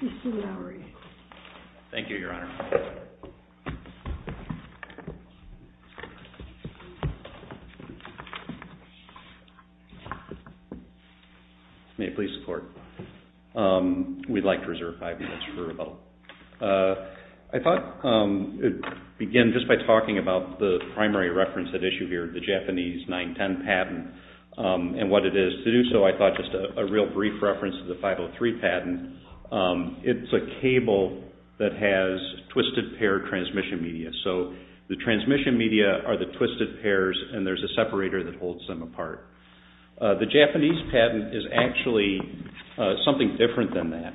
Mr. Lowry. Thank you, Your Honor. May I please support? We'd like to reserve five minutes for a vote. I thought I'd begin just by talking about the primary reference at issue here, the Japanese 910 patent and what it is. To do so, I thought just a real brief reference to the 503 patent. It's a cable that has twisted pair transmission media. So the transmission media are the twisted pairs and there's a separator that holds them apart. The Japanese patent is actually something different than that.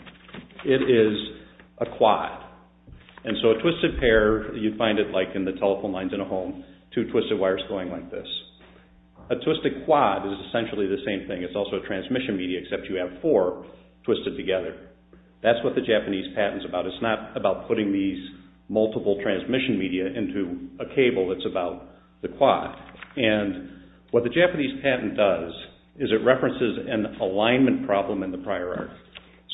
It is a quad. So a twisted pair, you'd find it like in the telephone lines in a home, two twisted wires going like this. A twisted quad is essentially the same thing. It's also a transmission media except you have four twisted together. That's what the Japanese patent is about. It's not about putting these multiple transmission media into a cable. It's about the quad. What the Japanese patent does is it references an alignment problem in the prior art.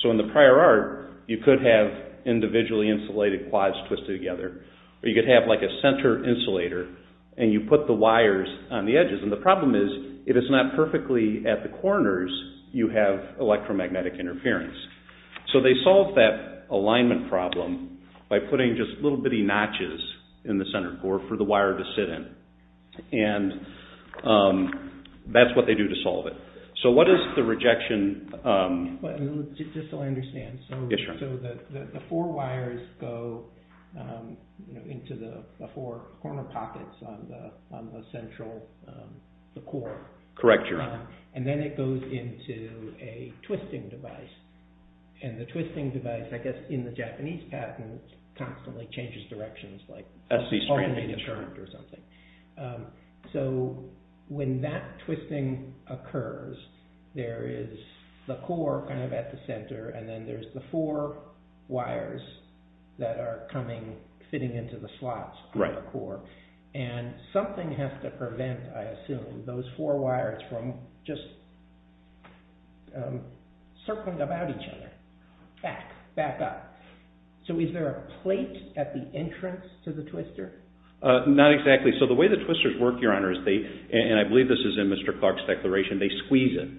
So in the prior art, you could have individually insulated quads twisted together or you could have like a center insulator and you put the wires on the edges. The problem is, if it's not perfectly at the corners, you have electromagnetic interference. So they solved that alignment problem by putting just little bitty notches in the center core for the wire to sit in. And that's what they do to solve it. So what is the rejection? Just so I understand. So the four wires go into the four corner pockets on the central core. Correct, Your Honor. And then it goes into a twisting device. And the twisting device, I guess, in the Japanese patent, constantly changes directions like alternating current or something. So when that twisting occurs, there is the core kind of at the center and then there's the four wires that are fitting into the slots on the core. And something has to prevent, I assume, those four wires from just circling about each other, back up. So is there a plate at the entrance to the twister? Not exactly. So the way the twisters work, Your Honor, and I believe this is in Mr. Clark's declaration, they squeeze it.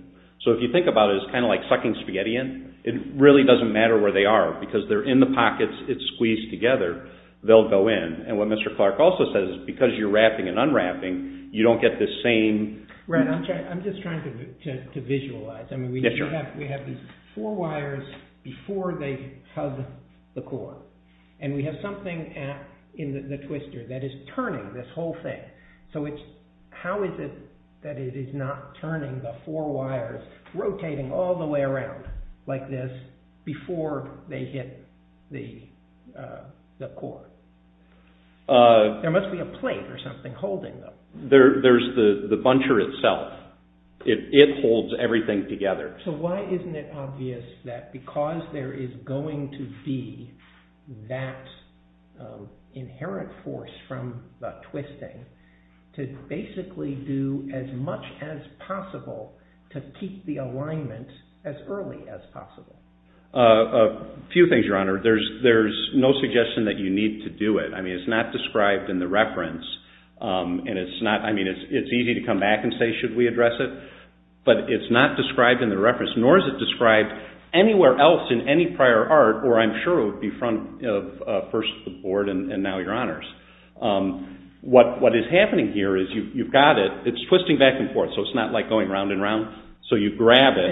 So if you think about it, it's kind of like sucking spaghetti in. It really doesn't matter where they are because they're in the pockets, it's squeezed together, they'll go in. And what Mr. Clark also says is because you're wrapping and unwrapping, you don't get the same... Right, I'm just trying to visualize. We have these four wires before they hug the core. And we have something in the twister that is turning this whole thing. So how is it that it is not turning the four wires, rotating all the way around like this before they hit the core? There must be a plate or something holding them. There's the buncher itself. It holds everything together. So why isn't it obvious that because there is going to be that inherent force from the twisting, to basically do as much as possible to keep the alignment as early as possible? A few things, Your Honor. There's no suggestion that you need to do it. It's not described in the reference. It's easy to come back and say, should we address it? But it's not described in the reference, nor is it described anywhere else in any prior art, or I'm sure it would be in front of first the board and now Your Honors. What is happening here is you've got it, it's twisting back and forth, so it's not like going round and round. So you grab it...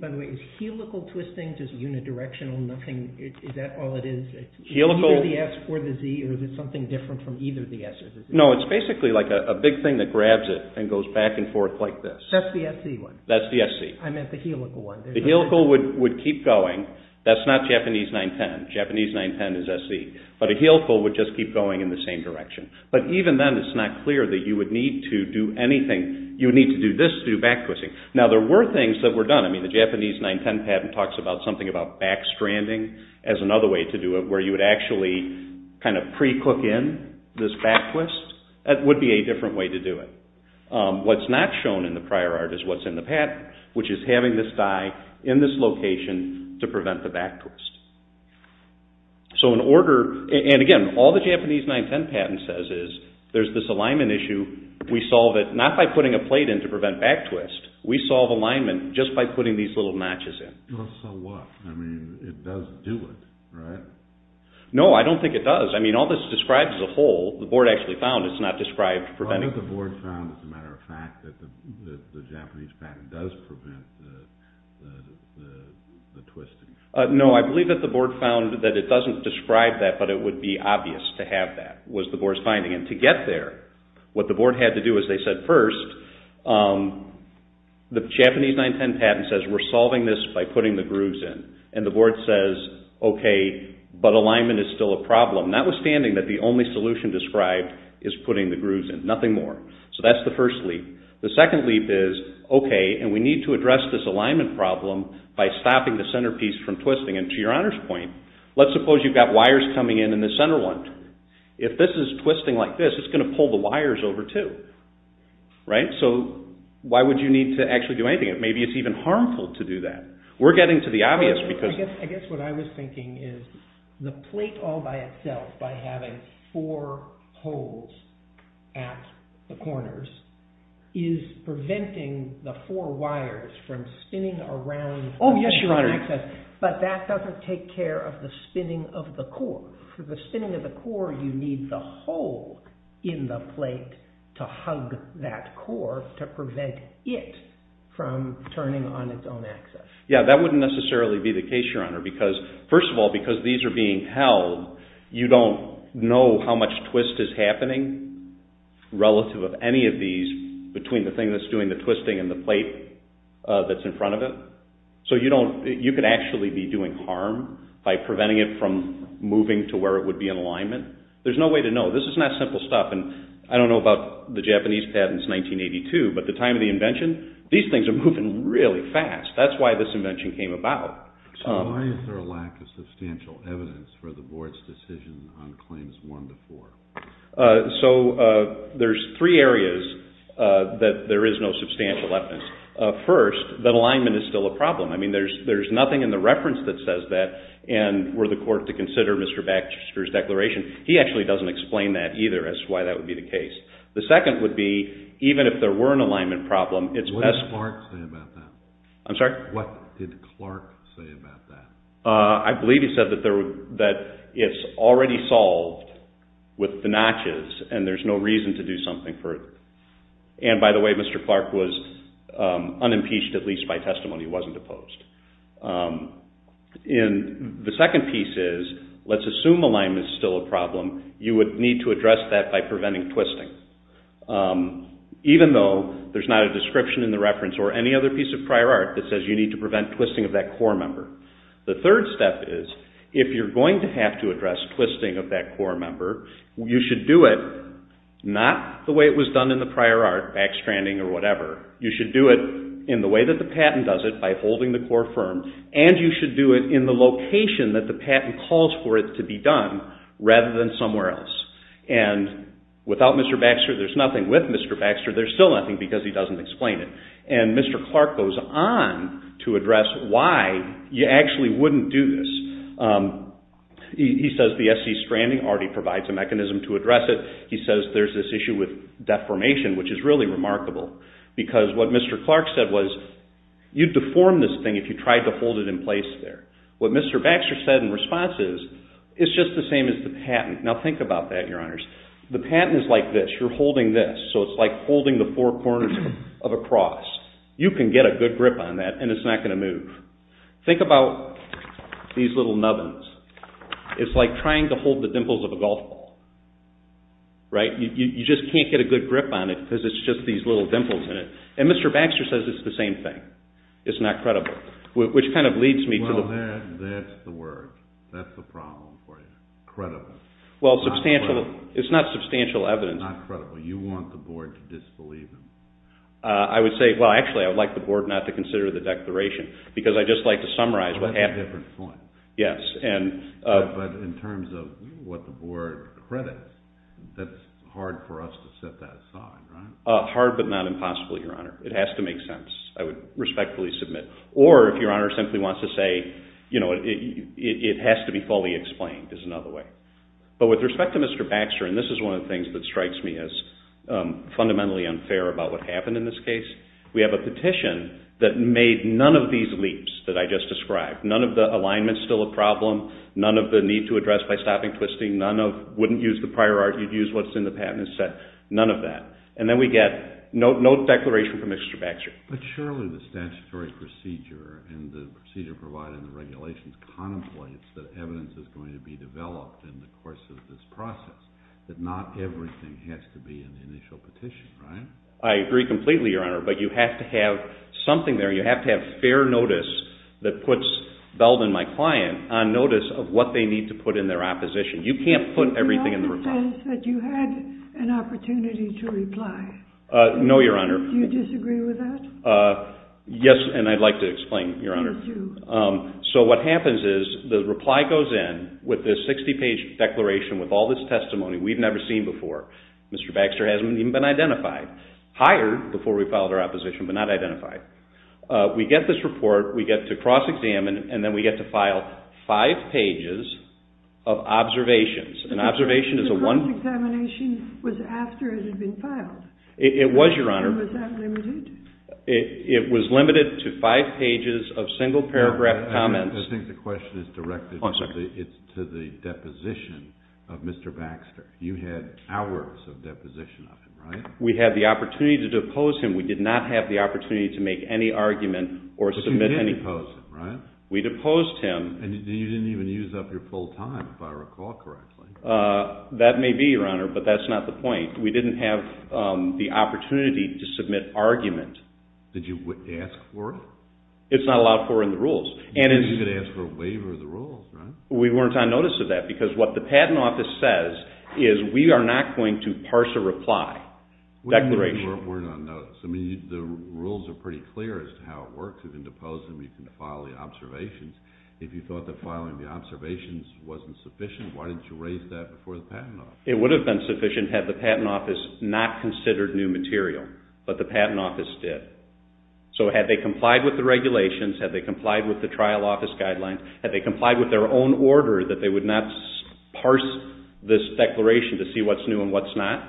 By the way, is helical twisting just unidirectional, nothing, is that all it is? Is it either the S or the Z, or is it something different from either the S or the Z? No, it's basically like a big thing that grabs it and goes back and forth like this. That's the SC one. That's the SC. I meant the helical one. The helical would keep going. That's not Japanese 9-10. Japanese 9-10 is SC. But a helical would just keep going in the same direction. But even then it's not clear that you would need to do anything. You would need to do this to do back twisting. Now there were things that were done. I mean the Japanese 9-10 patent talks about something about back stranding as another way to do it, where you would actually kind of pre-cook in this back twist. That would be a different way to do it. What's not shown in the prior art is what's in the patent, which is having this die in this location to prevent the back twist. So in order, and again, all the Japanese 9-10 patent says is there's this alignment issue. We solve it not by putting a plate in to prevent back twist. We solve alignment just by putting these little notches in. So what? I mean it does do it, right? No, I don't think it does. I mean all this describes the hole. The board actually found it's not described preventing it. The board found, as a matter of fact, that the Japanese patent does prevent the twisting. No, I believe that the board found that it doesn't describe that, but it would be obvious to have that, was the board's finding. And to get there, what the board had to do, as they said first, the Japanese 9-10 patent says we're solving this by putting the grooves in. And the board says, okay, but alignment is still a problem, notwithstanding that the only solution described is putting the grooves in, nothing more. So that's the first leap. The second leap is, okay, and we need to address this alignment problem by stopping the center piece from twisting. And to your Honor's point, let's suppose you've got wires coming in in the center one. If this is twisting like this, it's going to pull the wires over too, right? So why would you need to actually do anything? Maybe it's even harmful to do that. We're getting to the obvious because... I guess what I was thinking is the plate all by itself, by having four holes at the corners, is preventing the four wires from spinning around... But that doesn't take care of the spinning of the core. For the spinning of the core, you need the hole in the plate to hug that core to prevent it from turning on its own axis. Yeah, that wouldn't necessarily be the case, Your Honor, because first of all, because these are being held, you don't know how much twist is happening relative of any of these between the thing that's doing the twisting and the plate that's in front of it. So you could actually be doing harm by preventing it from moving to where it would be in alignment. There's no way to know. This is not simple stuff. I don't know about the Japanese patents in 1982, but at the time of the invention, these things are moving really fast. That's why this invention came about. So why is there a lack of substantial evidence for the Board's decision on claims one to four? So there's three areas that there is no substantial evidence. First, that alignment is still a problem. There's nothing in the reference that says that, and were the court to consider Mr. Baxter's declaration, he actually doesn't explain that either as to why that would be the case. The second would be, even if there were an alignment problem, it's best... What did Clark say about that? I'm sorry? What did Clark say about that? I believe he said that it's already solved with the notches and there's no reason to do something further. And by the way, Mr. Clark was unimpeached, at least by testimony. He wasn't opposed. And the second piece is, let's assume alignment is still a problem. You would need to address that by preventing twisting, even though there's not a description in the reference or any other piece of prior art that says you need to prevent twisting of that core member. The third step is, if you're going to have to address twisting of that core member, you should do it not the way it was done in the prior art, backstranding or whatever. You should do it in the way that the patent does it, by holding the core firm, and you should do it in the location that the patent calls for it to be done, rather than somewhere else. And without Mr. Baxter, there's nothing. With Mr. Baxter, there's still nothing because he doesn't explain it. And Mr. Clark goes on to address why you actually wouldn't do this. He says the SC stranding already provides a mechanism to address it. He says there's this issue with deformation, which is really remarkable, because what Mr. Clark said was, you'd deform this thing if you tried to hold it in place there. What Mr. Baxter said in response is, it's just the same as the patent. Now think about that, Your Honors. The patent is like this. You're holding this, so it's like holding the four corners of a cross. You can get a good grip on that and it's not going to move. Think about these little nubbins. It's like trying to hold the dimples of a golf ball, right? You just can't get a good grip on it because it's just these little dimples in it. And Mr. Baxter says it's the same thing. It's not credible, which kind of leads me to the... Well, that's the word. That's the problem for you. Credible. Well, substantial... Not credible. It's not substantial evidence. It's not credible. You want the board to disbelieve him. I would say, well, actually, I would like the board not to consider the declaration, because I'd just like to summarize what happened. That's a different point. Yes, and... But in terms of what the board credits, that's hard for us to set that aside, right? Hard, but not impossible, Your Honor. It has to make sense. I would respectfully submit. Or, if Your Honor simply wants to say, you know, it has to be fully explained is another way. But with respect to Mr. Baxter, and this is one of the things that strikes me as fundamentally unfair about what happened in this case, we have a petition that made none of these leaps that I just described. None of the alignment's still a problem, none of the need to address by stopping twisting, none of wouldn't use the prior art, you'd use what's in the patent and set, none of that. And then we get no declaration from Mr. Baxter. But surely the statutory procedure and the procedure provided in the regulations contemplates that evidence is going to be developed in the course of this process, that not everything has to be in the initial petition, right? I agree completely, Your Honor, but you have to have something there. You have to have fair notice that puts Belden, my client, on notice of what they need to put in their opposition. You can't put everything in the reply. Your Honor says that you had an opportunity to reply. No, Your Honor. Do you disagree with that? Yes, and I'd like to explain, Your Honor. You do. So what happens is the reply goes in with this 60-page declaration with all this testimony we've never seen before. Mr. Baxter hasn't even been identified. Hired before we filed our opposition, but not identified. We get this report, we get to cross-examine, and then we get to file five pages of observations. The cross-examination was after it had been filed. It was, Your Honor. And was that limited? It was limited to five pages of single-paragraph comments. I think the question is directed to the deposition of Mr. Baxter. You had hours of deposition of him, right? We had the opportunity to depose him. We did not have the opportunity to make any argument or submit any... But you did depose him, right? We deposed him. And you didn't even use up your full time, if I recall correctly. That may be, Your Honor, but that's not the point. We didn't have the opportunity to submit argument. Did you ask for it? It's not allowed for in the rules. You didn't even ask for a waiver of the rules, right? We weren't on notice of that because what the Patent Office says is we are not going to parse a reply, declaration. We weren't on notice. I mean, the rules are pretty clear as to how it works. You can depose him, you can file the observations. If you thought that filing the observations wasn't sufficient, why didn't you raise that before the Patent Office? It would have been sufficient had the Patent Office not considered new material, but the Patent Office did. So had they complied with the regulations, had they complied with the trial office guidelines, had they complied with their own order that they would not parse this declaration to see what's new and what's not?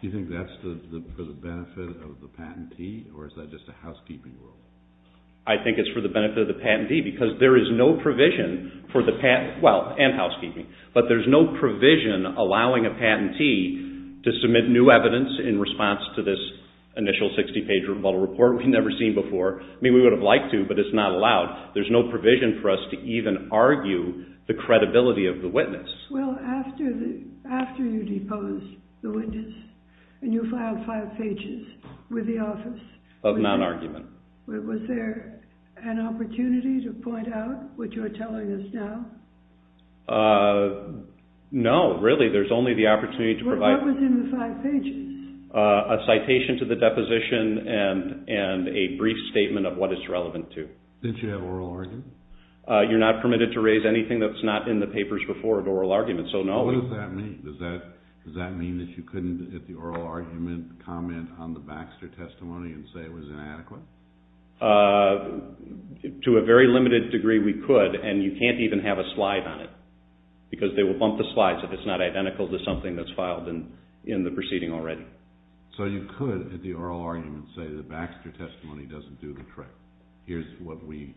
Do you think that's for the benefit of the patentee, or is that just a housekeeping rule? I think it's for the benefit of the patentee because there is no provision for the patent, well, and housekeeping, but there's no provision allowing a patentee to submit new evidence in response to this initial 60-page rebuttal report we've never seen before. I mean, we would have liked to, but it's not allowed. There's no provision for us to even argue the credibility of the witness. Well, after you deposed the witness and you filed five pages with the office... Of non-argument. Was there an opportunity to point out what you're telling us now? No, really, there's only the opportunity to provide... What was in the five pages? A citation to the deposition and a brief statement of what it's relevant to. Did you have oral argument? You're not permitted to raise anything that's not in the papers before an oral argument, so no. What does that mean? Does that mean that you couldn't, at the oral argument, comment on the Baxter testimony and say it was inadequate? To a very limited degree, we could, and you can't even have a slide on it because they will bump the slides if it's not identical to something that's filed in the proceeding already. So you could, at the oral argument, say the Baxter testimony doesn't do the trick. Here's what we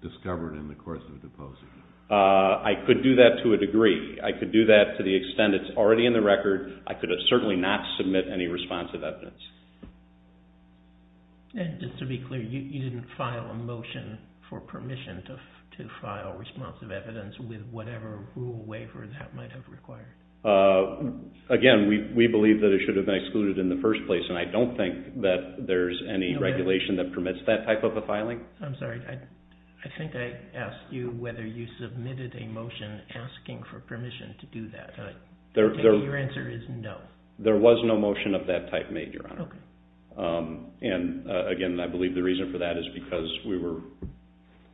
discovered in the course of deposing. I could do that to a degree. I could do that to the extent it's already in the record. I could certainly not submit any responsive evidence. And just to be clear, you didn't file a motion for permission to file responsive evidence with whatever rule or waiver that might have required? Again, we believe that it should have been excluded in the first place, and I don't think that there's any regulation that permits that type of a filing. I'm sorry. I think I asked you whether you submitted a motion asking for permission to do that. Your answer is no. There was no motion of that type made, Your Honor. Okay. And, again, I believe the reason for that is because we were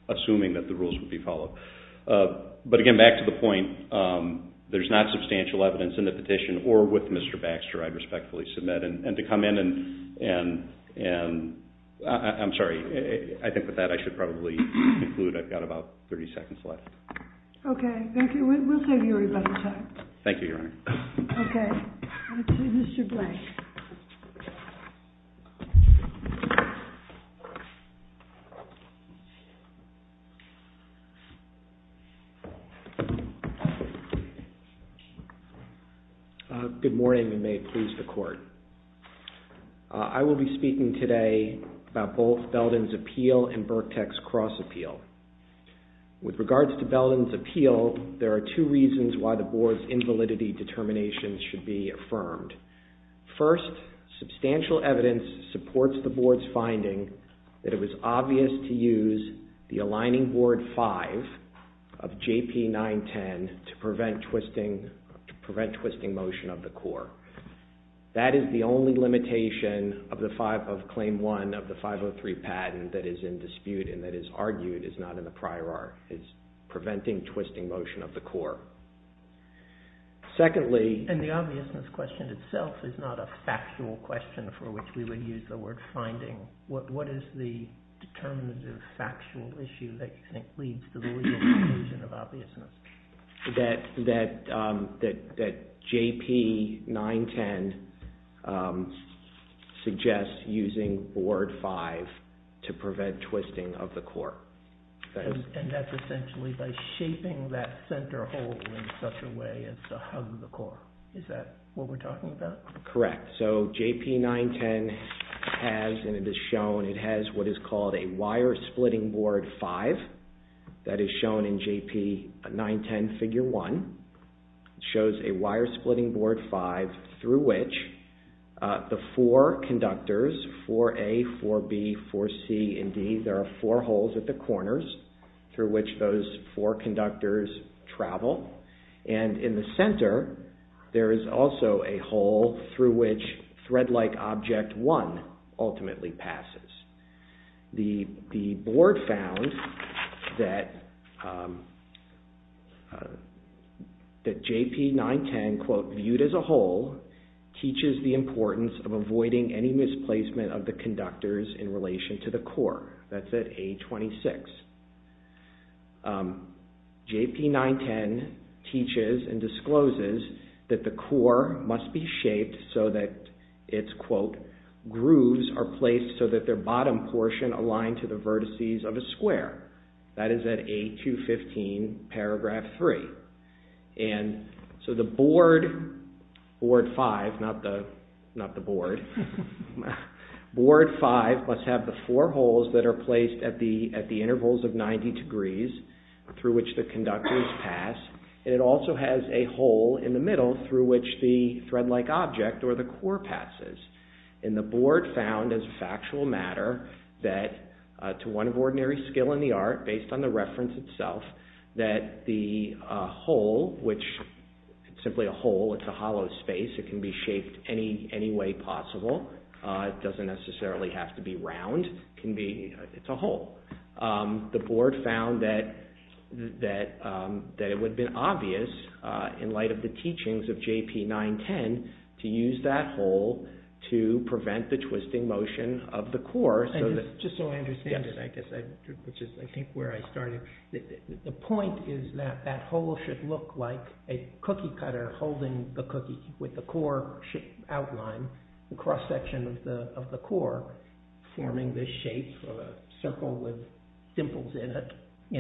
assuming that the rules would be followed. But, again, back to the point, there's not substantial evidence in the petition, or with Mr. Baxter I'd respectfully submit, and to come in and – I'm sorry. I think with that I should probably conclude. I've got about 30 seconds left. Okay. We'll take your rebuttal, sir. Thank you, Your Honor. Okay. Over to you, Mr. Blake. Good morning, and may it please the Court. I will be speaking today about Belden's appeal and Burkett's cross appeal. With regards to Belden's appeal, there are two reasons why the Board's invalidity determination should be affirmed. First, substantial evidence supports the Board's finding that it was obvious to use the aligning Board 5 of J.P. 910 to prevent twisting motion of the core. That is the only limitation of Claim 1 of the 503 patent that is in dispute and that is argued is not in the prior art. It's preventing twisting motion of the core. Secondly – And the obviousness question itself is not a factual question for which we would use the word finding. What is the determinative factual issue that you think leads to the legal conclusion of obviousness? That J.P. 910 suggests using Board 5 to prevent twisting of the core. And that's essentially by shaping that center hole in such a way as to hug the core. Is that what we're talking about? Correct. So J.P. 910 has, and it is shown, it has what is called a wire-splitting Board 5. That is shown in J.P. 910 Figure 1. It shows a wire-splitting Board 5 through which the four conductors – 4A, 4B, 4C, and D – there are four holes at the corners through which those four conductors travel. And in the center, there is also a hole through which thread-like object 1 ultimately passes. The Board found that J.P. 910, quote, viewed as a hole, teaches the importance of avoiding any misplacement of the conductors in relation to the core. That's at A26. J.P. 910 teaches and discloses that the core must be shaped so that its, quote, grooves are placed so that their bottom portion align to the vertices of a square. That is at A215, paragraph 3. And so the Board, Board 5, not the Board, Board 5 must have the four holes that are placed at the intervals of 90 degrees through which the conductors pass. And it also has a hole in the middle through which the thread-like object, or the core, passes. And the Board found as a factual matter that, to one of ordinary skill in the art, based on the reference itself, that the hole, which is simply a hole, it's a hollow space, it can be shaped any way possible. It doesn't necessarily have to be round. It's a hole. The Board found that it would have been obvious, in light of the teachings of J.P. 910, to use that hole to prevent the twisting motion of the core. Just so I understand it, I guess, which is I think where I started. The point is that that hole should look like a cookie cutter holding the cookie with the core outline, the cross-section of the core, forming this shape of a circle with dimples in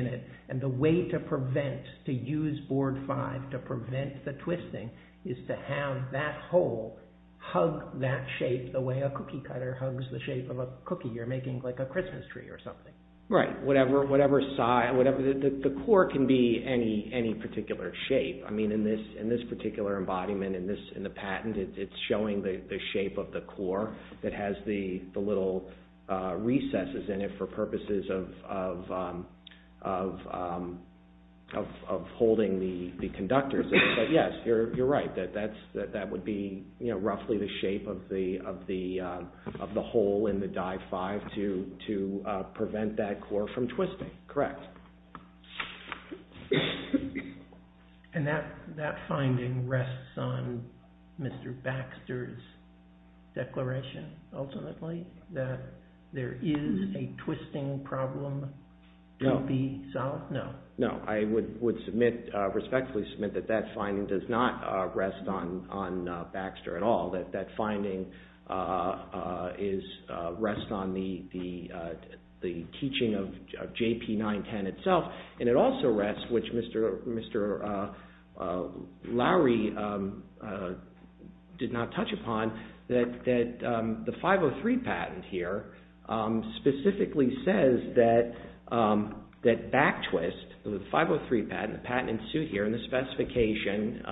it. And the way to prevent, to use Board 5 to prevent the twisting, is to have that hole hug that shape the way a cookie cutter hugs the shape of a cookie. You're making like a Christmas tree or something. Right. The core can be any particular shape. In this particular embodiment, in the patent, it's showing the shape of the core that has the little recesses in it for purposes of holding the conductors. Yes, you're right. That would be roughly the shape of the hole in the Dive 5 to prevent that core from twisting. Correct. And that finding rests on Mr. Baxter's declaration, ultimately, that there is a twisting problem to be solved? No. No, I would respectfully submit that that finding does not rest on Baxter at all. That finding rests on the teaching of JP-910 itself, and it also rests, which Mr. Lowry did not touch upon, that the 503 patent here specifically says that back twist, the 503 patent, the patent in suit here in the specification,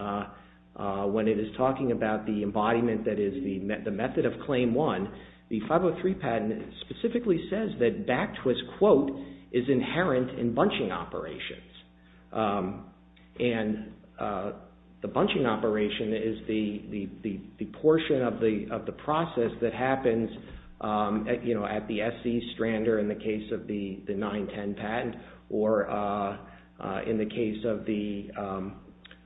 when it is talking about the embodiment that is the method of Claim 1, the 503 patent specifically says that back twist, quote, is inherent in bunching operations. And the bunching operation is the portion of the process that happens at the SC strander in the case of the 910 patent or in the case of the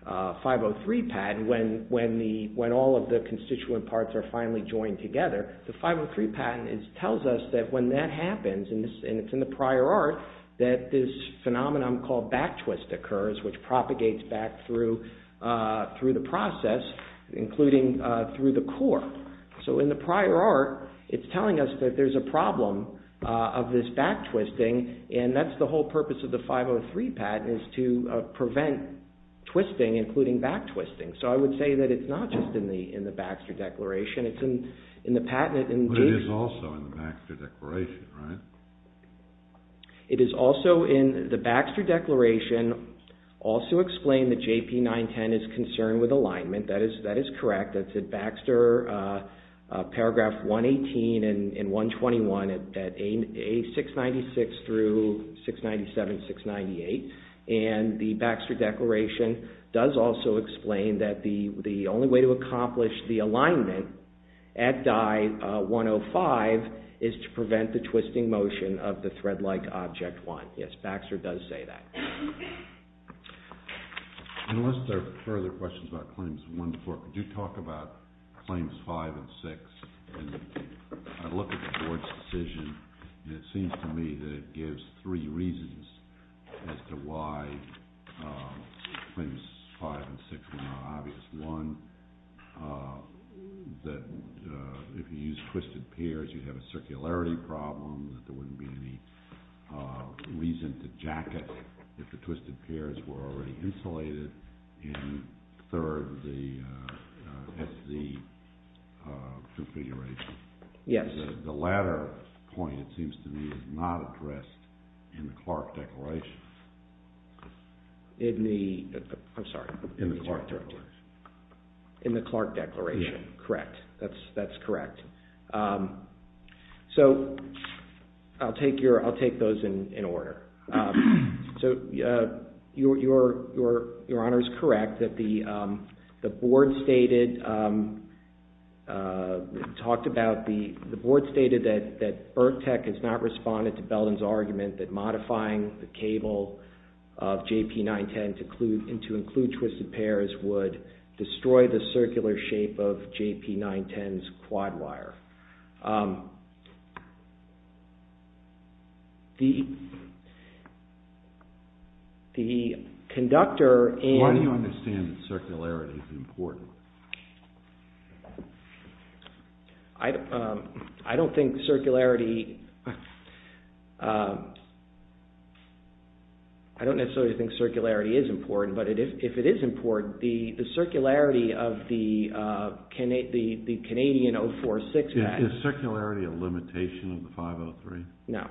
503 patent when all of the constituent parts are finally joined together. The 503 patent tells us that when that happens, and it's in the prior art, that this phenomenon called back twist occurs, which propagates back through the process, including through the core. So in the prior art, it's telling us that there's a problem of this back twisting, and that's the whole purpose of the 503 patent is to prevent twisting, including back twisting. So I would say that it's not just in the Baxter Declaration. It's in the patent in June. But it is also in the Baxter Declaration, right? It is also in the Baxter Declaration, also explain that JP910 is concerned with alignment. That is correct. That's in Baxter, paragraph 118 and 121, at A696 through 697, 698. And the Baxter Declaration does also explain that the only way to accomplish the alignment at Dye 105 is to prevent the twisting motion of the thread-like object 1. Yes, Baxter does say that. Unless there are further questions about Claims 1-4, could you talk about Claims 5 and 6? I look at the board's decision, and it seems to me that it gives three reasons as to why Claims 5 and 6 were not obvious. One, that if you used twisted pairs, you'd have a circularity problem, that there wouldn't be any reason to jacket if the twisted pairs were already insulated. And third, the SC configuration. Yes. The latter point, it seems to me, is not addressed in the Clark Declaration. In the, I'm sorry. In the Clark Declaration. In the Clark Declaration, correct. That's correct. So, I'll take those in order. Your Honor is correct that the board stated, talked about, the board stated that ERC-TEC has not responded to Belden's argument that modifying the cable of JP 910 to include twisted pairs would destroy the circular shape of JP 910's quad wire. The conductor and... Why do you understand that circularity is important? I don't think circularity... I don't necessarily think circularity is important, but if it is important, the circularity of the Canadian 046... Is circularity a limitation of the 503? No.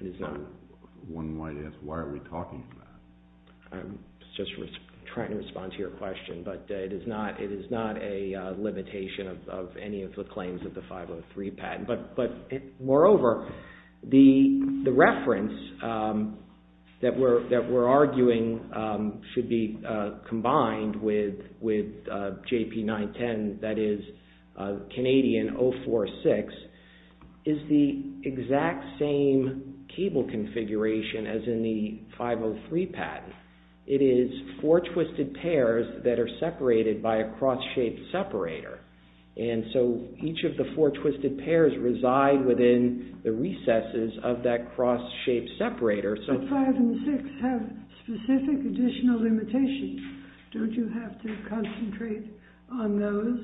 It is not. One might ask, why are we talking about it? I'm just trying to respond to your question, but it is not a limitation of any of the claims of the 503 patent. Moreover, the reference that we're arguing should be combined with JP 910, that is, Canadian 046, is the exact same cable configuration as in the 503 patent. It is four twisted pairs that are separated by a cross-shaped separator. Each of the four twisted pairs reside within the recesses of that cross-shaped separator. But 5 and 6 have specific additional limitations. Don't you have to concentrate on those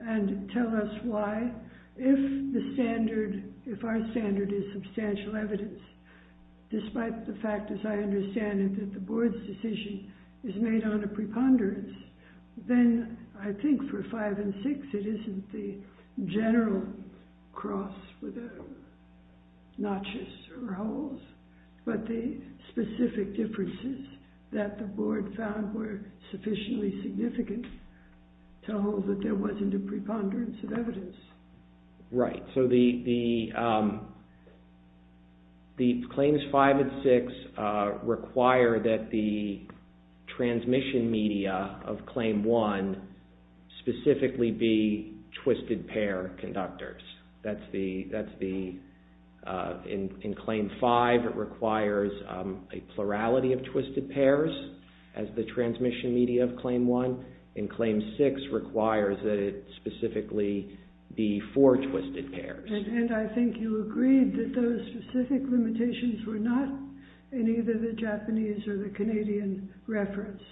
and tell us why? If our standard is substantial evidence, despite the fact, as I understand it, that the board's decision is made on a preponderance, then I think for 5 and 6 it isn't the general cross with notches or holes, but the specific differences that the board found were sufficiently significant to hold that there wasn't a preponderance of evidence. Right. So the claims 5 and 6 require that the transmission media of claim 1 specifically be twisted pair conductors. That's the... In claim 5 it requires a plurality of twisted pairs as the transmission media of claim 1. In claim 6 requires that it specifically be four twisted pairs. And I think you agreed that those specific limitations were not in either the Japanese or the Canadian reference.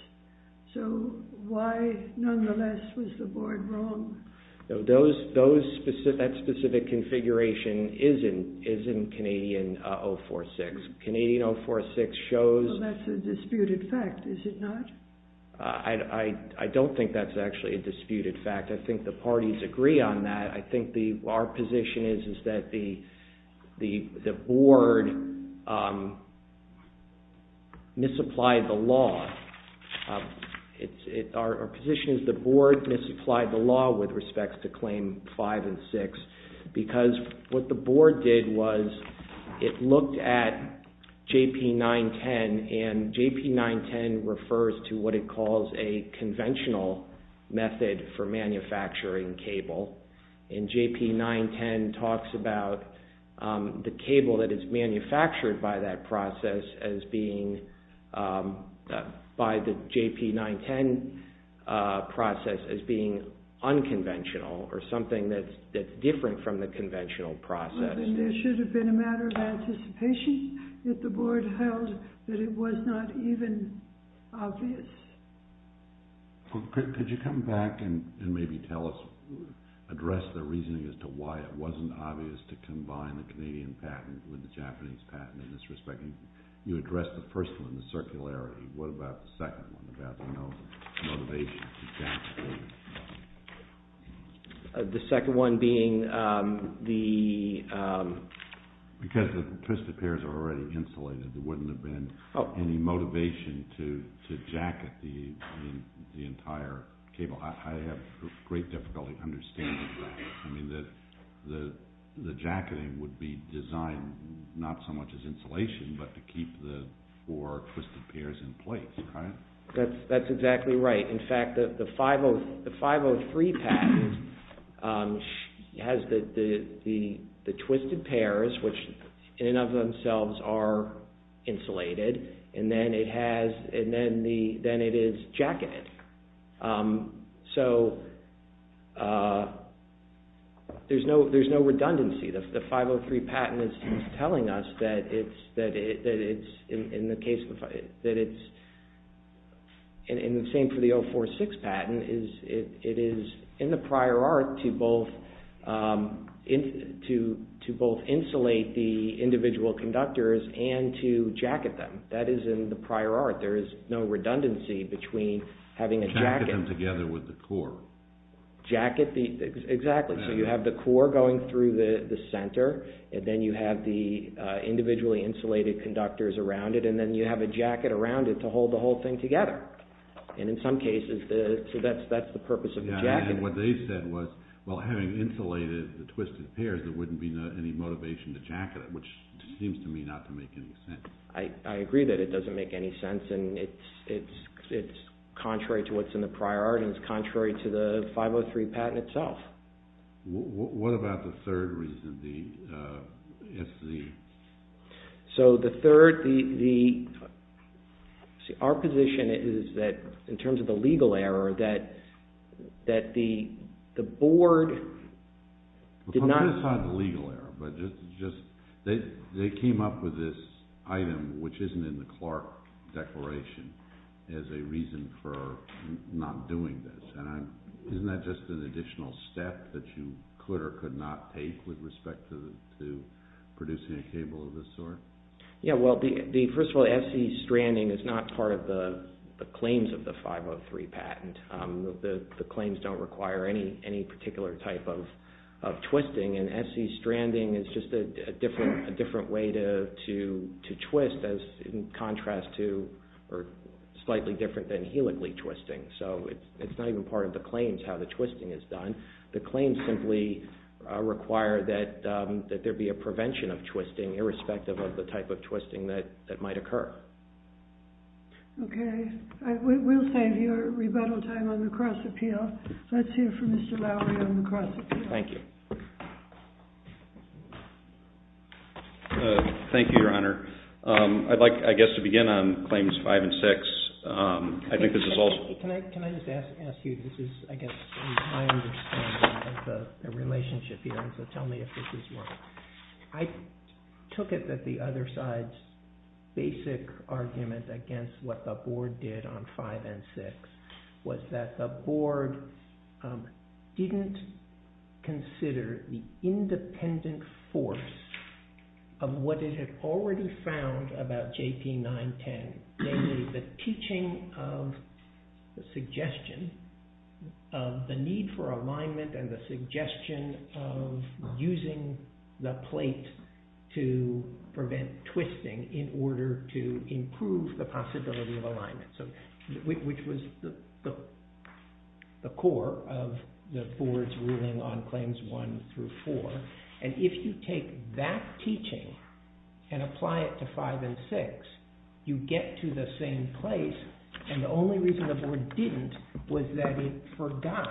So why, nonetheless, was the board wrong? That specific configuration is in Canadian 046. Canadian 046 shows... Well, that's a disputed fact, is it not? I don't think that's actually a disputed fact. I think the parties agree on that. I think our position is that the board misapplied the law. Our position is the board misapplied the law with respect to claim 5 and 6 because what the board did was it looked at JP910 as a conventional method for manufacturing cable. And JP910 talks about the cable that is manufactured by that process as being... by the JP910 process as being unconventional or something that's different from the conventional process. There should have been a matter of anticipation that the board held that it was not even obvious. Could you come back and maybe tell us... address the reasoning as to why it wasn't obvious to combine the Canadian patent with the Japanese patent in this respect? You addressed the first one, the circularity. What about the second one about the motivation? The second one being the... Because the twisted pairs are already insulated, there wouldn't have been any motivation to jacket the entire cable. I have great difficulty understanding that. I mean, the jacketing would be designed not so much as insulation but to keep the four twisted pairs in place, right? That's exactly right. In fact, the 503 patent has the twisted pairs which in and of themselves are insulated and then it is jacketed. So, there's no redundancy. The 503 patent is telling us that it's... And the same for the 046 patent. It is in the prior art to both insulate the individual conductors and to jacket them. That is in the prior art. There is no redundancy between having a jacket... Jacket them together with the core. Exactly. So, you have the core going through the center and then you have the individually insulated conductors around it and then you have a jacket around it to hold the whole thing together. And in some cases, that's the purpose of the jacket. And what they said was, well, having insulated the twisted pairs, there wouldn't be any motivation to jacket it which seems to me not to make any sense. I agree that it doesn't make any sense and it's contrary to what's in the prior art and it's contrary to the 503 patent itself. What about the third reason, the SC? So, the third... Our position is that, in terms of the legal error, that the board did not... Put aside the legal error. They came up with this item, which isn't in the Clark Declaration, as a reason for not doing this. Isn't that just an additional step that you could or could not take with respect to producing a cable of this sort? Yeah, well, first of all, SC stranding is not part of the claims of the 503 patent. The claims don't require any particular type of twisting and SC stranding is just a different way to twist as in contrast to or slightly different than helically twisting. So, it's not even part of the claims how the twisting is done. The claims simply require that there be a prevention of twisting irrespective of the type of twisting that might occur. Okay. We'll save your rebuttal time on the cross-appeal. Let's hear from Mr. Lowery on the cross-appeal. Thank you. Thank you, Your Honour. I'd like, I guess, to begin on Claims 5 and 6. I think this is also... Can I just ask you? This is, I guess, my understanding of the relationship here, so tell me if this is wrong. I took it that the other side's basic argument against what the Board did on 5 and 6 was that the Board didn't consider the independent force of what it had already found about JP 910, namely the teaching of the suggestion of the need for alignment and the suggestion of using the plate to prevent twisting in order to improve the possibility of alignment, which was the core of the Board's ruling on Claims 1 through 4. And if you take that teaching and apply it to 5 and 6, you get to the same place, and the only reason the Board didn't was that it forgot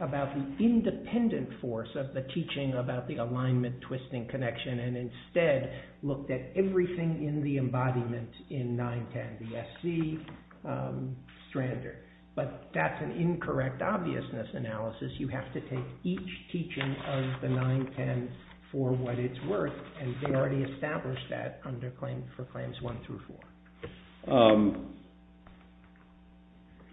about the independent force of the teaching about the alignment-twisting connection and instead looked at everything in the embodiment in 910, the SC, Strander. But that's an incorrect obviousness analysis. You have to take each teaching of the 910 for what it's worth, and they already established that for Claims 1 through 4.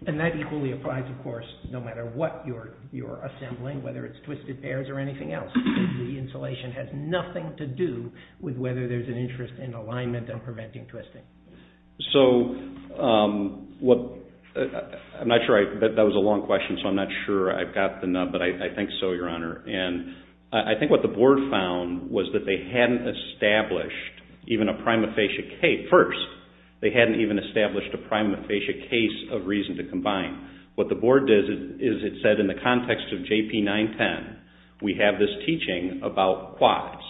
And that equally applies, of course, no matter what you're assembling, whether it's twisted pairs or anything else. The insulation has nothing to do with whether there's an interest in alignment and preventing twisting. So, I'm not sure, that was a long question, so I'm not sure I've got the nub, but I think so, Your Honor. And I think what the Board found was that they hadn't established even a prima facie case. First, they hadn't even established a prima facie case of reason to combine. What the Board did is it said in the context of JP 910, we have this teaching about quads,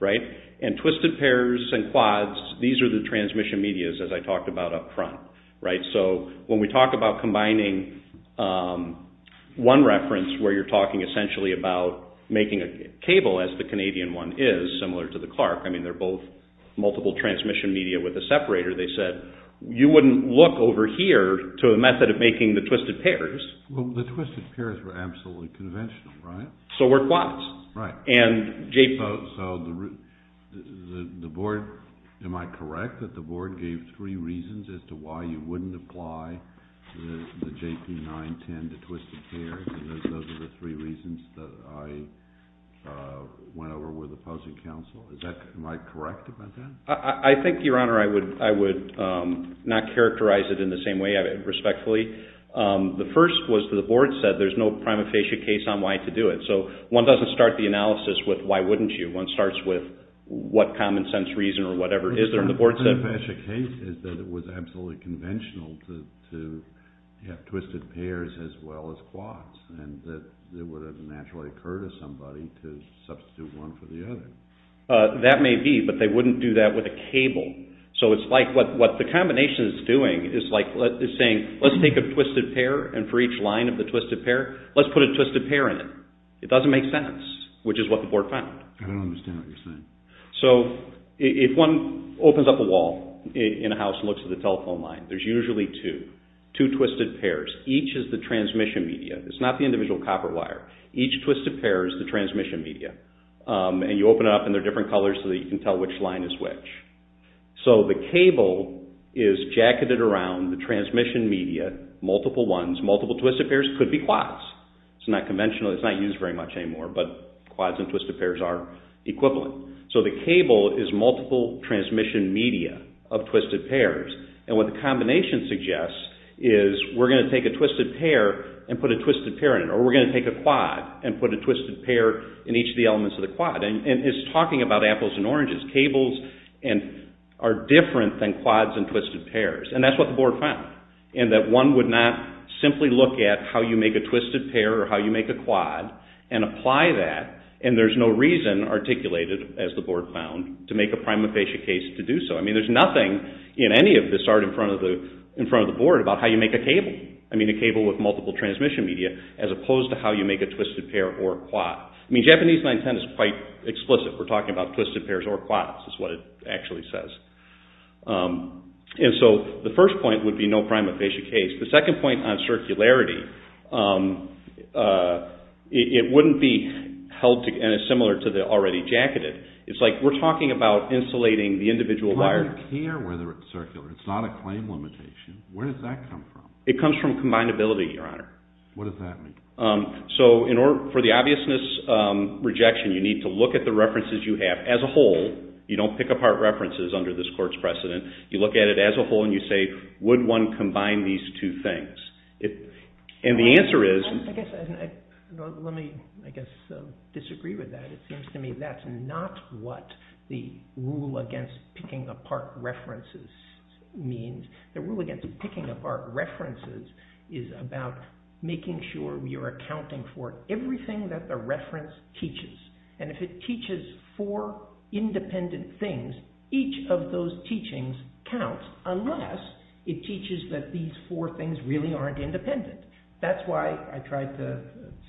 right? And twisted pairs and quads, these are the transmission medias, as I talked about up front. So, when we talk about combining one reference where you're talking essentially about making a cable, as the Canadian one is, similar to the Clark, I mean, they're both multiple transmission media with a separator, they said, you wouldn't look over here to a method of making the twisted pairs. Well, the twisted pairs were absolutely conventional, right? So were quads. Right. And JP... So, the Board, am I correct, that the Board gave three reasons as to why you wouldn't apply the JP 910 to twisted pairs and those are the three reasons that I went over with opposing counsel? Am I correct about that? I think, Your Honor, I would not characterize it in the same way, respectfully. The first was that the Board said there's no prima facie case on why to do it. So, one doesn't start the analysis with why wouldn't you? One starts with what common sense reason or whatever is there and the Board said... The prima facie case is that it was absolutely conventional to have twisted pairs as well as quads and that it would have naturally occurred to somebody to substitute one for the other. That may be, but they wouldn't do that with a cable. So, it's like what the combination is doing is saying, let's take a twisted pair and for each line of the twisted pair, let's put a twisted pair in it. It doesn't make sense, which is what the Board found. I don't understand what you're saying. So, if one opens up a wall in a house and looks at the telephone line, there's usually two, two twisted pairs. Each is the transmission media. It's not the individual copper wire. Each twisted pair is the transmission media and you open it up and they're different colors so that you can tell which line is which. So, the cable is jacketed around the transmission media, multiple ones, multiple twisted pairs, could be quads. It's not conventional, it's not used very much anymore, but quads and twisted pairs are equivalent. So, the cable is multiple transmission media of twisted pairs and what the combination suggests is we're going to take a twisted pair and put a twisted pair in it or we're going to take a quad and put a twisted pair in each of the elements of the quad. And it's talking about apples and oranges. Cables are different than quads and twisted pairs and that's what the Board found in that one would not simply look at how you make a twisted pair or how you make a quad and apply that and there's no reason articulated, as the Board found, to make a prime facie case to do so. I mean, there's nothing in any of this art in front of the Board about how you make a cable. I mean, a cable with multiple transmission media as opposed to how you make a twisted pair or a quad. I mean, Japanese 910 is quite explicit. We're talking about twisted pairs or quads is what it actually says. And so, the first point would be no prime facie case. The second point on circularity, it wouldn't be held, and it's similar to the already jacketed. It's like we're talking about insulating the individual wire. I don't care whether it's circular. It's not a claim limitation. Where does that come from? It comes from combinability, Your Honor. What does that mean? So, for the obviousness rejection, you need to look at the references you have as a whole. You don't pick apart references under this Court's precedent. You look at it as a whole and you say, would one combine these two things? And the answer is... Let me, I guess, disagree with that. It seems to me that's not what the rule against picking apart references means. The rule against picking apart references is about making sure we are accounting for everything that the reference teaches. And if it teaches four independent things, each of those teachings counts, unless it teaches that these four things really aren't independent. That's why I tried to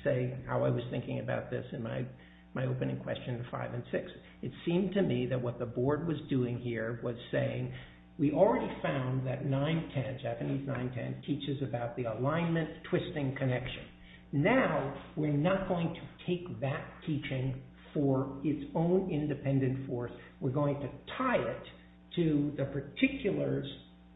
say how I was thinking about this in my opening question, five and six. It seemed to me that what the Board was doing here was saying, we already found that 910, Japanese 910, teaches about the alignment, twisting connection. Now, we're not going to take that teaching for its own independent force. We're going to tie it to the particulars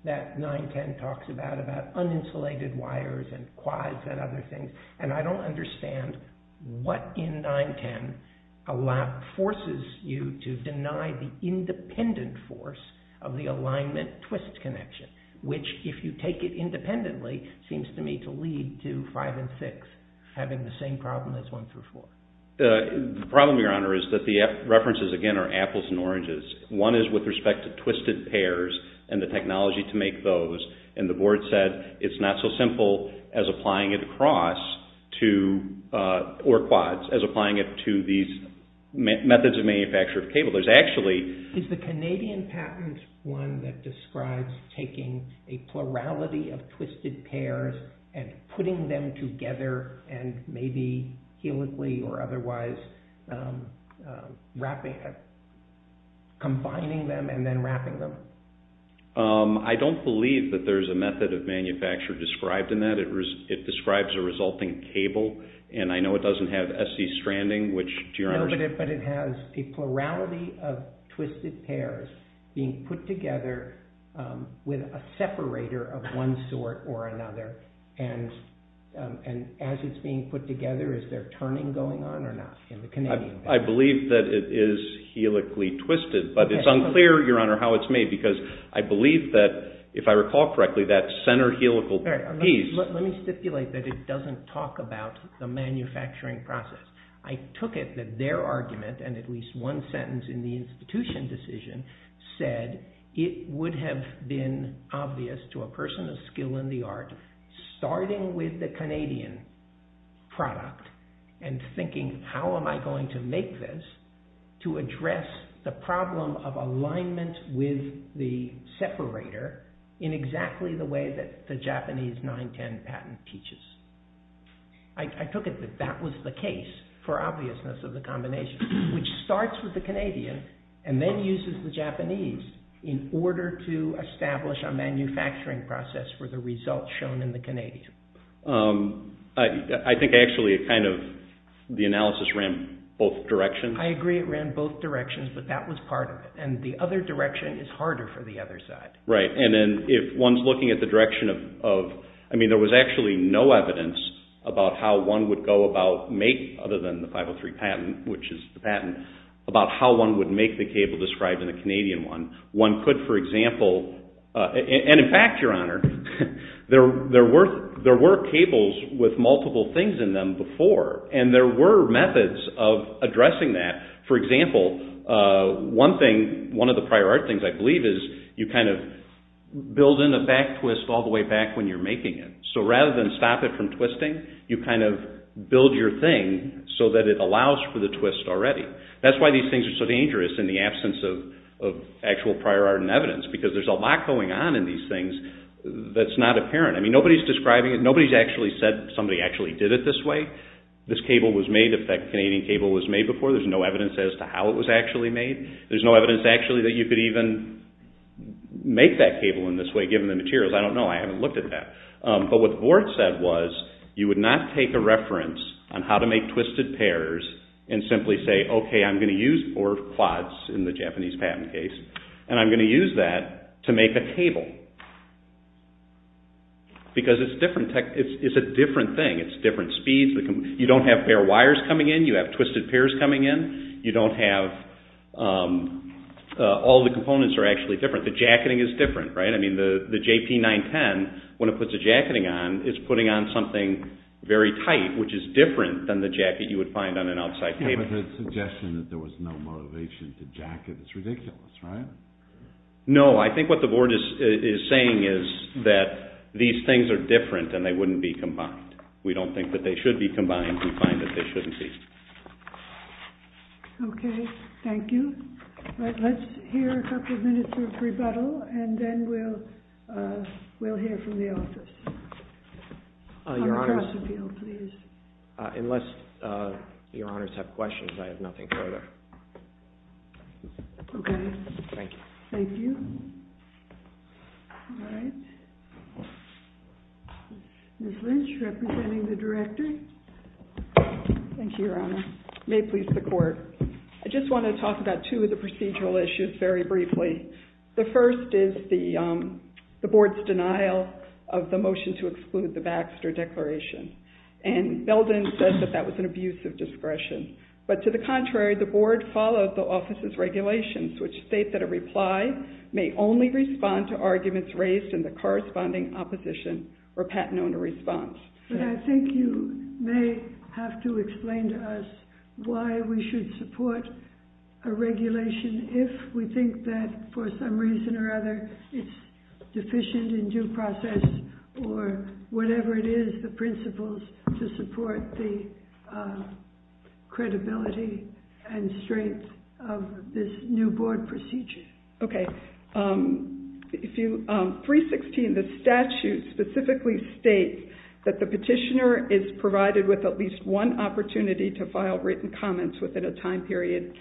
that 910 talks about, about uninsulated wires and quads and other things. And I don't understand what in 910 forces you to deny the independent force of the alignment twist connection, which, if you take it independently, seems to me to lead to five and six having the same problem as one through four. The problem, Your Honor, is that the references, again, are apples and oranges. One is with respect to twisted pairs and the technology to make those. And the Board said it's not so simple as applying it across to, or quads, as applying it to these methods of manufacture of cable. There's actually... Is the Canadian patent one that describes taking a plurality of twisted pairs and putting them together and maybe helically or otherwise wrapping, combining them and then wrapping them? I don't believe that there's a method of manufacture described in that. It describes a resulting cable, and I know it doesn't have SC stranding, which, Your Honor... No, but it has a plurality of twisted pairs being put together with a separator of one sort or another. And as it's being put together, is there turning going on or not in the Canadian patent? I believe that it is helically twisted, but it's unclear, Your Honor, how it's made because I believe that, if I recall correctly, that center helical piece... Let me stipulate that it doesn't talk about the manufacturing process. I took it that their argument, and at least one sentence in the institution decision, said it would have been obvious to a person of skill in the art, starting with the Canadian product and thinking, how am I going to make this to address the problem of alignment with the separator in exactly the way that the Japanese 910 patent teaches? I took it that that was the case for obviousness of the combination, which starts with the Canadian and then uses the Japanese in order to establish a manufacturing process for the results shown in the Canadian. I think, actually, it kind of... The analysis ran both directions. I agree it ran both directions, but that was part of it. The other direction is harder for the other side. Right. If one's looking at the direction of... There was actually no evidence about how one would go about making, other than the 503 patent, which is the patent, about how one would make the cable described in the Canadian one. One could, for example... In fact, Your Honor, there were cables with multiple things in them before, and there were methods of addressing that. For example, one thing... One of the prior art things, I believe, is you kind of build in a back twist all the way back when you're making it. So rather than stop it from twisting, you kind of build your thing so that it allows for the twist already. That's why these things are so dangerous in the absence of actual prior art and evidence, because there's a lot going on in these things that's not apparent. I mean, nobody's describing it. Nobody's actually said somebody actually did it this way. This cable was made... If that Canadian cable was made before, there's no evidence as to how it was actually made. There's no evidence actually that you could even make that cable in this way, given the materials. I don't know. I haven't looked at that. But what the board said was you would not take a reference on how to make twisted pairs and simply say, okay, I'm going to use four quads in the Japanese patent case, and I'm going to use that to make a table. Because it's different. It's a different thing. It's different speeds. You don't have bare wires coming in. You have twisted pairs coming in. You don't have... All the components are actually different. The jacketing is different, right? I mean, the JP-910, when it puts a jacketing on, it's putting on something very tight, which is different than the jacket you would find on an outside table. But the suggestion that there was no motivation to jacket is ridiculous, right? No. I think what the board is saying is that these things are different and they wouldn't be combined. We don't think that they should be combined. I think we find that they shouldn't be. Okay. Thank you. Let's hear a couple of minutes of rebuttal, and then we'll hear from the office. On the cross-appeal, please. Unless your honors have questions, I have nothing further. Okay. Thank you. Thank you. All right. Ms. Lynch, representing the director. Thank you, your honor. May it please the court. I just want to talk about two of the procedural issues very briefly. The first is the board's denial of the motion to exclude the Baxter Declaration. And Belden says that that was an abuse of discretion. But to the contrary, the board followed the office's regulations, which state that a reply may only respond to arguments raised in the corresponding opposition or patent owner response. But I think you may have to explain to us why we should support a regulation if we think that for some reason or other it's deficient in due process or whatever it is, the principles, to support the credibility and strength of this new board procedure. Okay. 316, the statute specifically states that the petitioner is provided with at least one opportunity to file written comments within a time period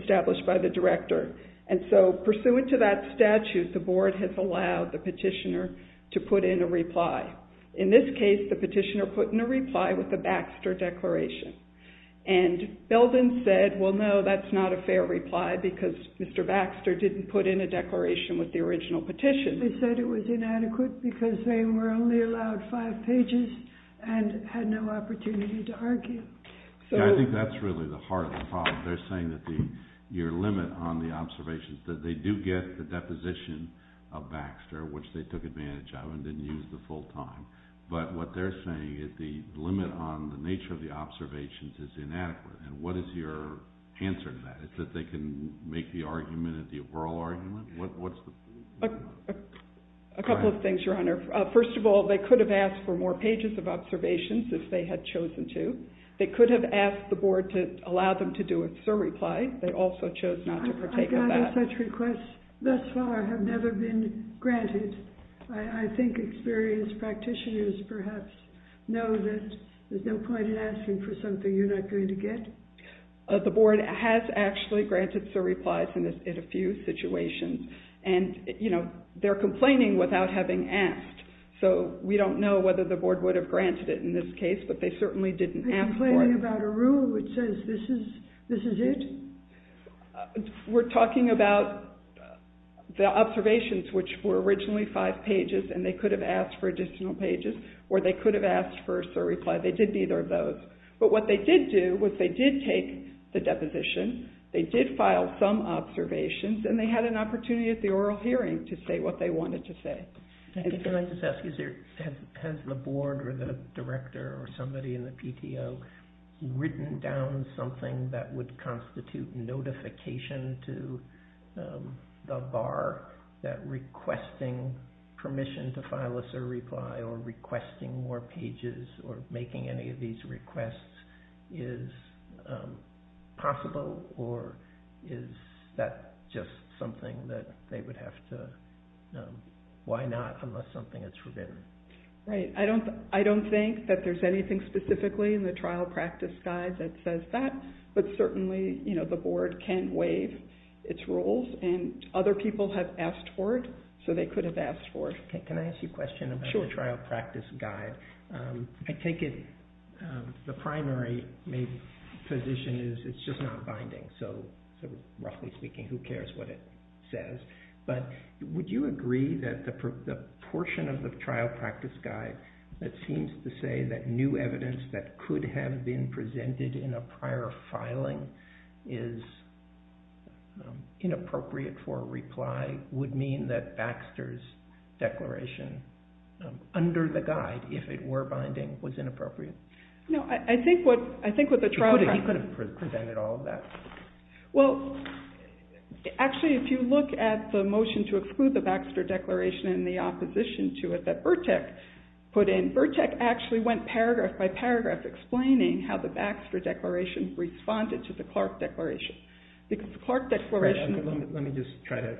established by the director. And so pursuant to that statute, the board has allowed the petitioner to put in a reply. In this case, the petitioner put in a reply with a Baxter Declaration. And Belden said, well, no, that's not a fair reply because Mr. Baxter didn't put in a declaration with the original petition. They said it was inadequate because they were only allowed five pages and had no opportunity to argue. Yeah, I think that's really the heart of the problem. They're saying that your limit on the observations, that they do get the deposition of Baxter, which they took advantage of and didn't use the full time, but what they're saying is the limit on the nature of the observations is inadequate. And what is your answer to that? Is it that they can make the argument at the oral argument? A couple of things, Your Honor. First of all, they could have asked for more pages of observations if they had chosen to. They could have asked the board to allow them to do a sir reply. They also chose not to partake of that. I've gotten such requests thus far have never been granted. I think experienced practitioners perhaps know that there's no point in asking for something you're not going to get. The board has actually granted sir replies in a few situations. And they're complaining without having asked. So we don't know whether the board would have granted it in this case, but they certainly didn't ask for it. Are you complaining about a rule which says this is it? We're talking about the observations which were originally five pages and they could have asked for additional pages or they could have asked for a sir reply. They did neither of those. But what they did do was they did take the deposition. They did file some observations and they had an opportunity at the oral hearing to say what they wanted to say. Can I just ask, has the board or the director or somebody in the PTO written down something that would constitute notification to the bar that requesting permission to file a sir reply or requesting more pages or making any of these requests is possible or is that just something that they would have to, why not unless something is forbidden? Right. I don't think that there's anything specifically in the trial practice guide that says that, but certainly the board can waive its rules and other people have asked for it so they could have asked for it. Can I ask you a question about the trial practice guide? I take it the primary maybe position is it's just not binding, so roughly speaking, who cares what it says. But would you agree that the portion of the trial practice guide that seems to say that new evidence that could have been presented in a prior filing is inappropriate for a reply would mean that Baxter's declaration under the guide, if it were binding, was inappropriate? No, I think what the trial practice... You could have presented all of that. Well, actually if you look at the motion to exclude the Baxter declaration and the opposition to it that Burtek put in, Burtek actually went paragraph by paragraph explaining how the Baxter declaration responded to the Clark declaration. Because the Clark declaration... Let me just try to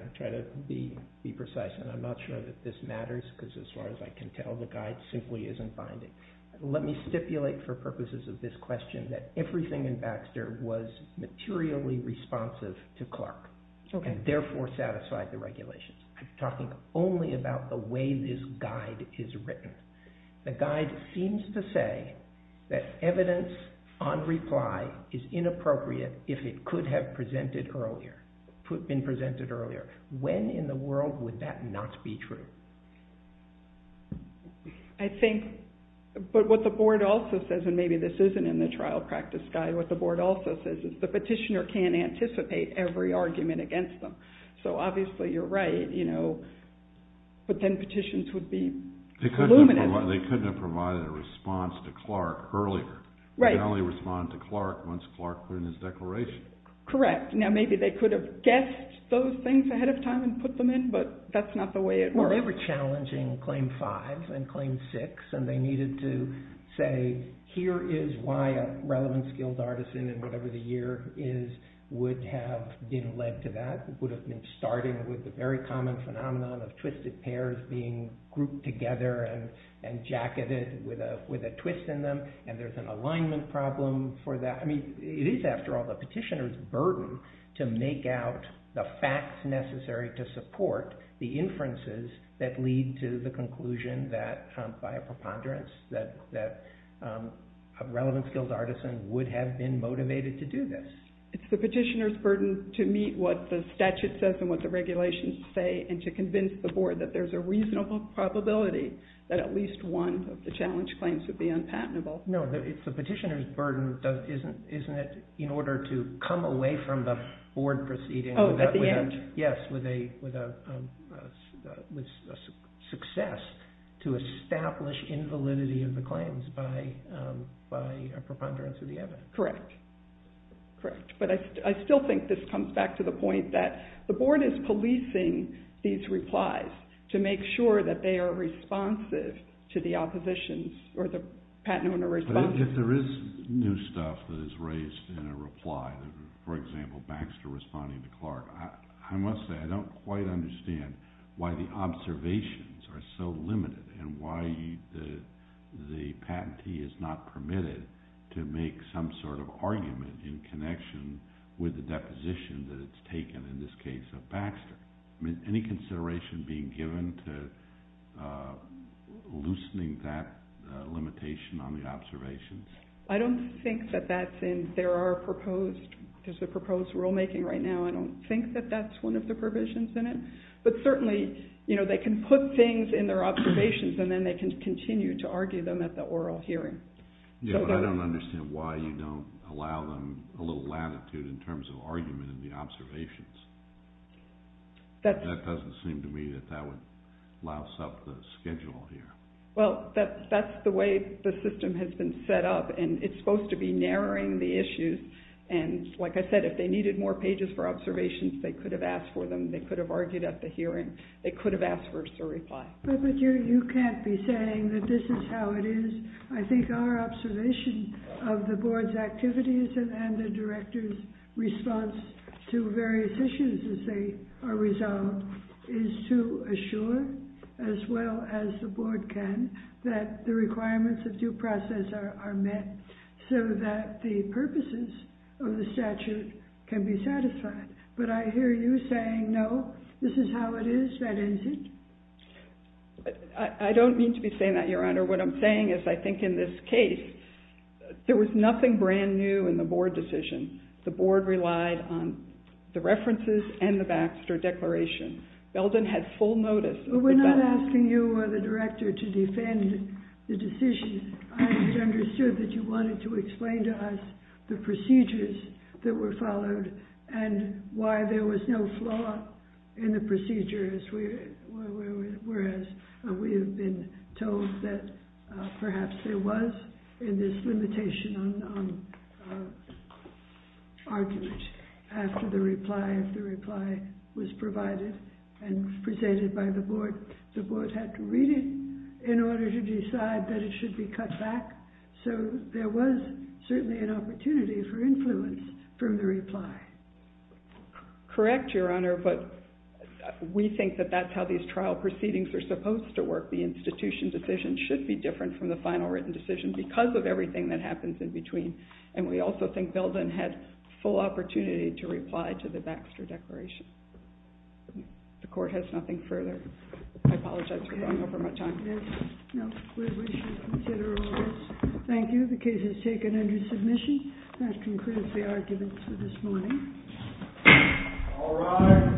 be precise and I'm not sure that this matters because as far as I can tell, the guide simply isn't binding. Let me stipulate for purposes of this question that everything in Baxter was materially responsive to Clark and therefore satisfied the regulations. I'm talking only about the way this guide is written. The guide seems to say that evidence on reply is inappropriate if it could have been presented earlier. When in the world would that not be true? I think... But what the board also says, and maybe this isn't in the trial practice guide, what the board also says is the petitioner can't anticipate every argument against them. So obviously you're right, you know, but then petitions would be... They couldn't have provided a response to Clark earlier. They could only respond to Clark once Clark put in his declaration. Correct. Now maybe they could have guessed those things ahead of time and put them in, but that's not the way it works. Well, they were challenging Claim 5 and Claim 6 and they needed to say, here is why a relevant skilled artisan in whatever the year is would have been led to that, would have been starting with the very common phenomenon of twisted pairs being grouped together and jacketed with a twist in them and there's an alignment problem for that. It is, after all, the petitioner's burden to make out the facts necessary to support the inferences that lead to the conclusion that, by a preponderance, that a relevant skilled artisan would have been motivated to do this. It's the petitioner's burden to meet what the statute says and what the regulations say and to convince the board that there's a reasonable probability that at least one of the challenge claims would be unpatentable. No, it's the petitioner's burden, isn't it, in order to come away from the board proceeding Oh, at the end. Yes, with a success to establish invalidity of the claims by a preponderance of the evidence. Correct. But I still think this comes back to the point that the board is policing these replies to make sure that they are responsive to the opposition or the patent owner's response. But if there is new stuff that is raised in a reply, for example, Baxter responding to Clark, I must say I don't quite understand why the observations are so limited and why the patentee is not permitted to make some sort of argument that it's taken in this case of Baxter. I mean, any consideration being given to loosening that limitation on the observations? I don't think that that's in... There are proposed... There's a proposed rulemaking right now. I don't think that that's one of the provisions in it. But certainly, you know, they can put things in their observations and then they can continue to argue them at the oral hearing. Yeah, but I don't understand why you don't allow them a little latitude in terms of argument in the observations. That doesn't seem to me that that would louse up the schedule here. Well, that's the way the system has been set up and it's supposed to be narrowing the issues. And like I said, if they needed more pages for observations, they could have asked for them. They could have argued at the hearing. They could have asked for a reply. But you can't be saying that this is how it is. I think our observation of the board's activities and the director's response to various issues as they are resolved is to assure, as well as the board can, that the requirements of due process are met so that the purposes of the statute can be satisfied. But I hear you saying, no, this is how it is, that isn't. I don't mean to be saying that, Your Honor. What I'm saying is I think in this case, there was nothing brand new in the board decision. The board relied on the references and the Baxter Declaration. Belden had full notice. We're not asking you or the director to defend the decision. I understood that you wanted to explain to us the procedures that were followed and why there was no flaw in the procedures whereas we have been told that perhaps there was in this limitation on argument after the reply, if the reply was provided and presented by the board. The board had to read it in order to decide that it should be cut back. So there was certainly an opportunity for influence from the reply. Correct, Your Honor, but we think that that's how these trial proceedings are supposed to work. The institution decision should be different from the final written decision because of everything that happens in between and we also think Belden had full opportunity to reply to the Baxter Declaration. The court has nothing further. I apologize for going over my time. No, we should consider all this. Thank you. The case is taken under submission. That concludes the arguments for this morning. All rise. Thank you.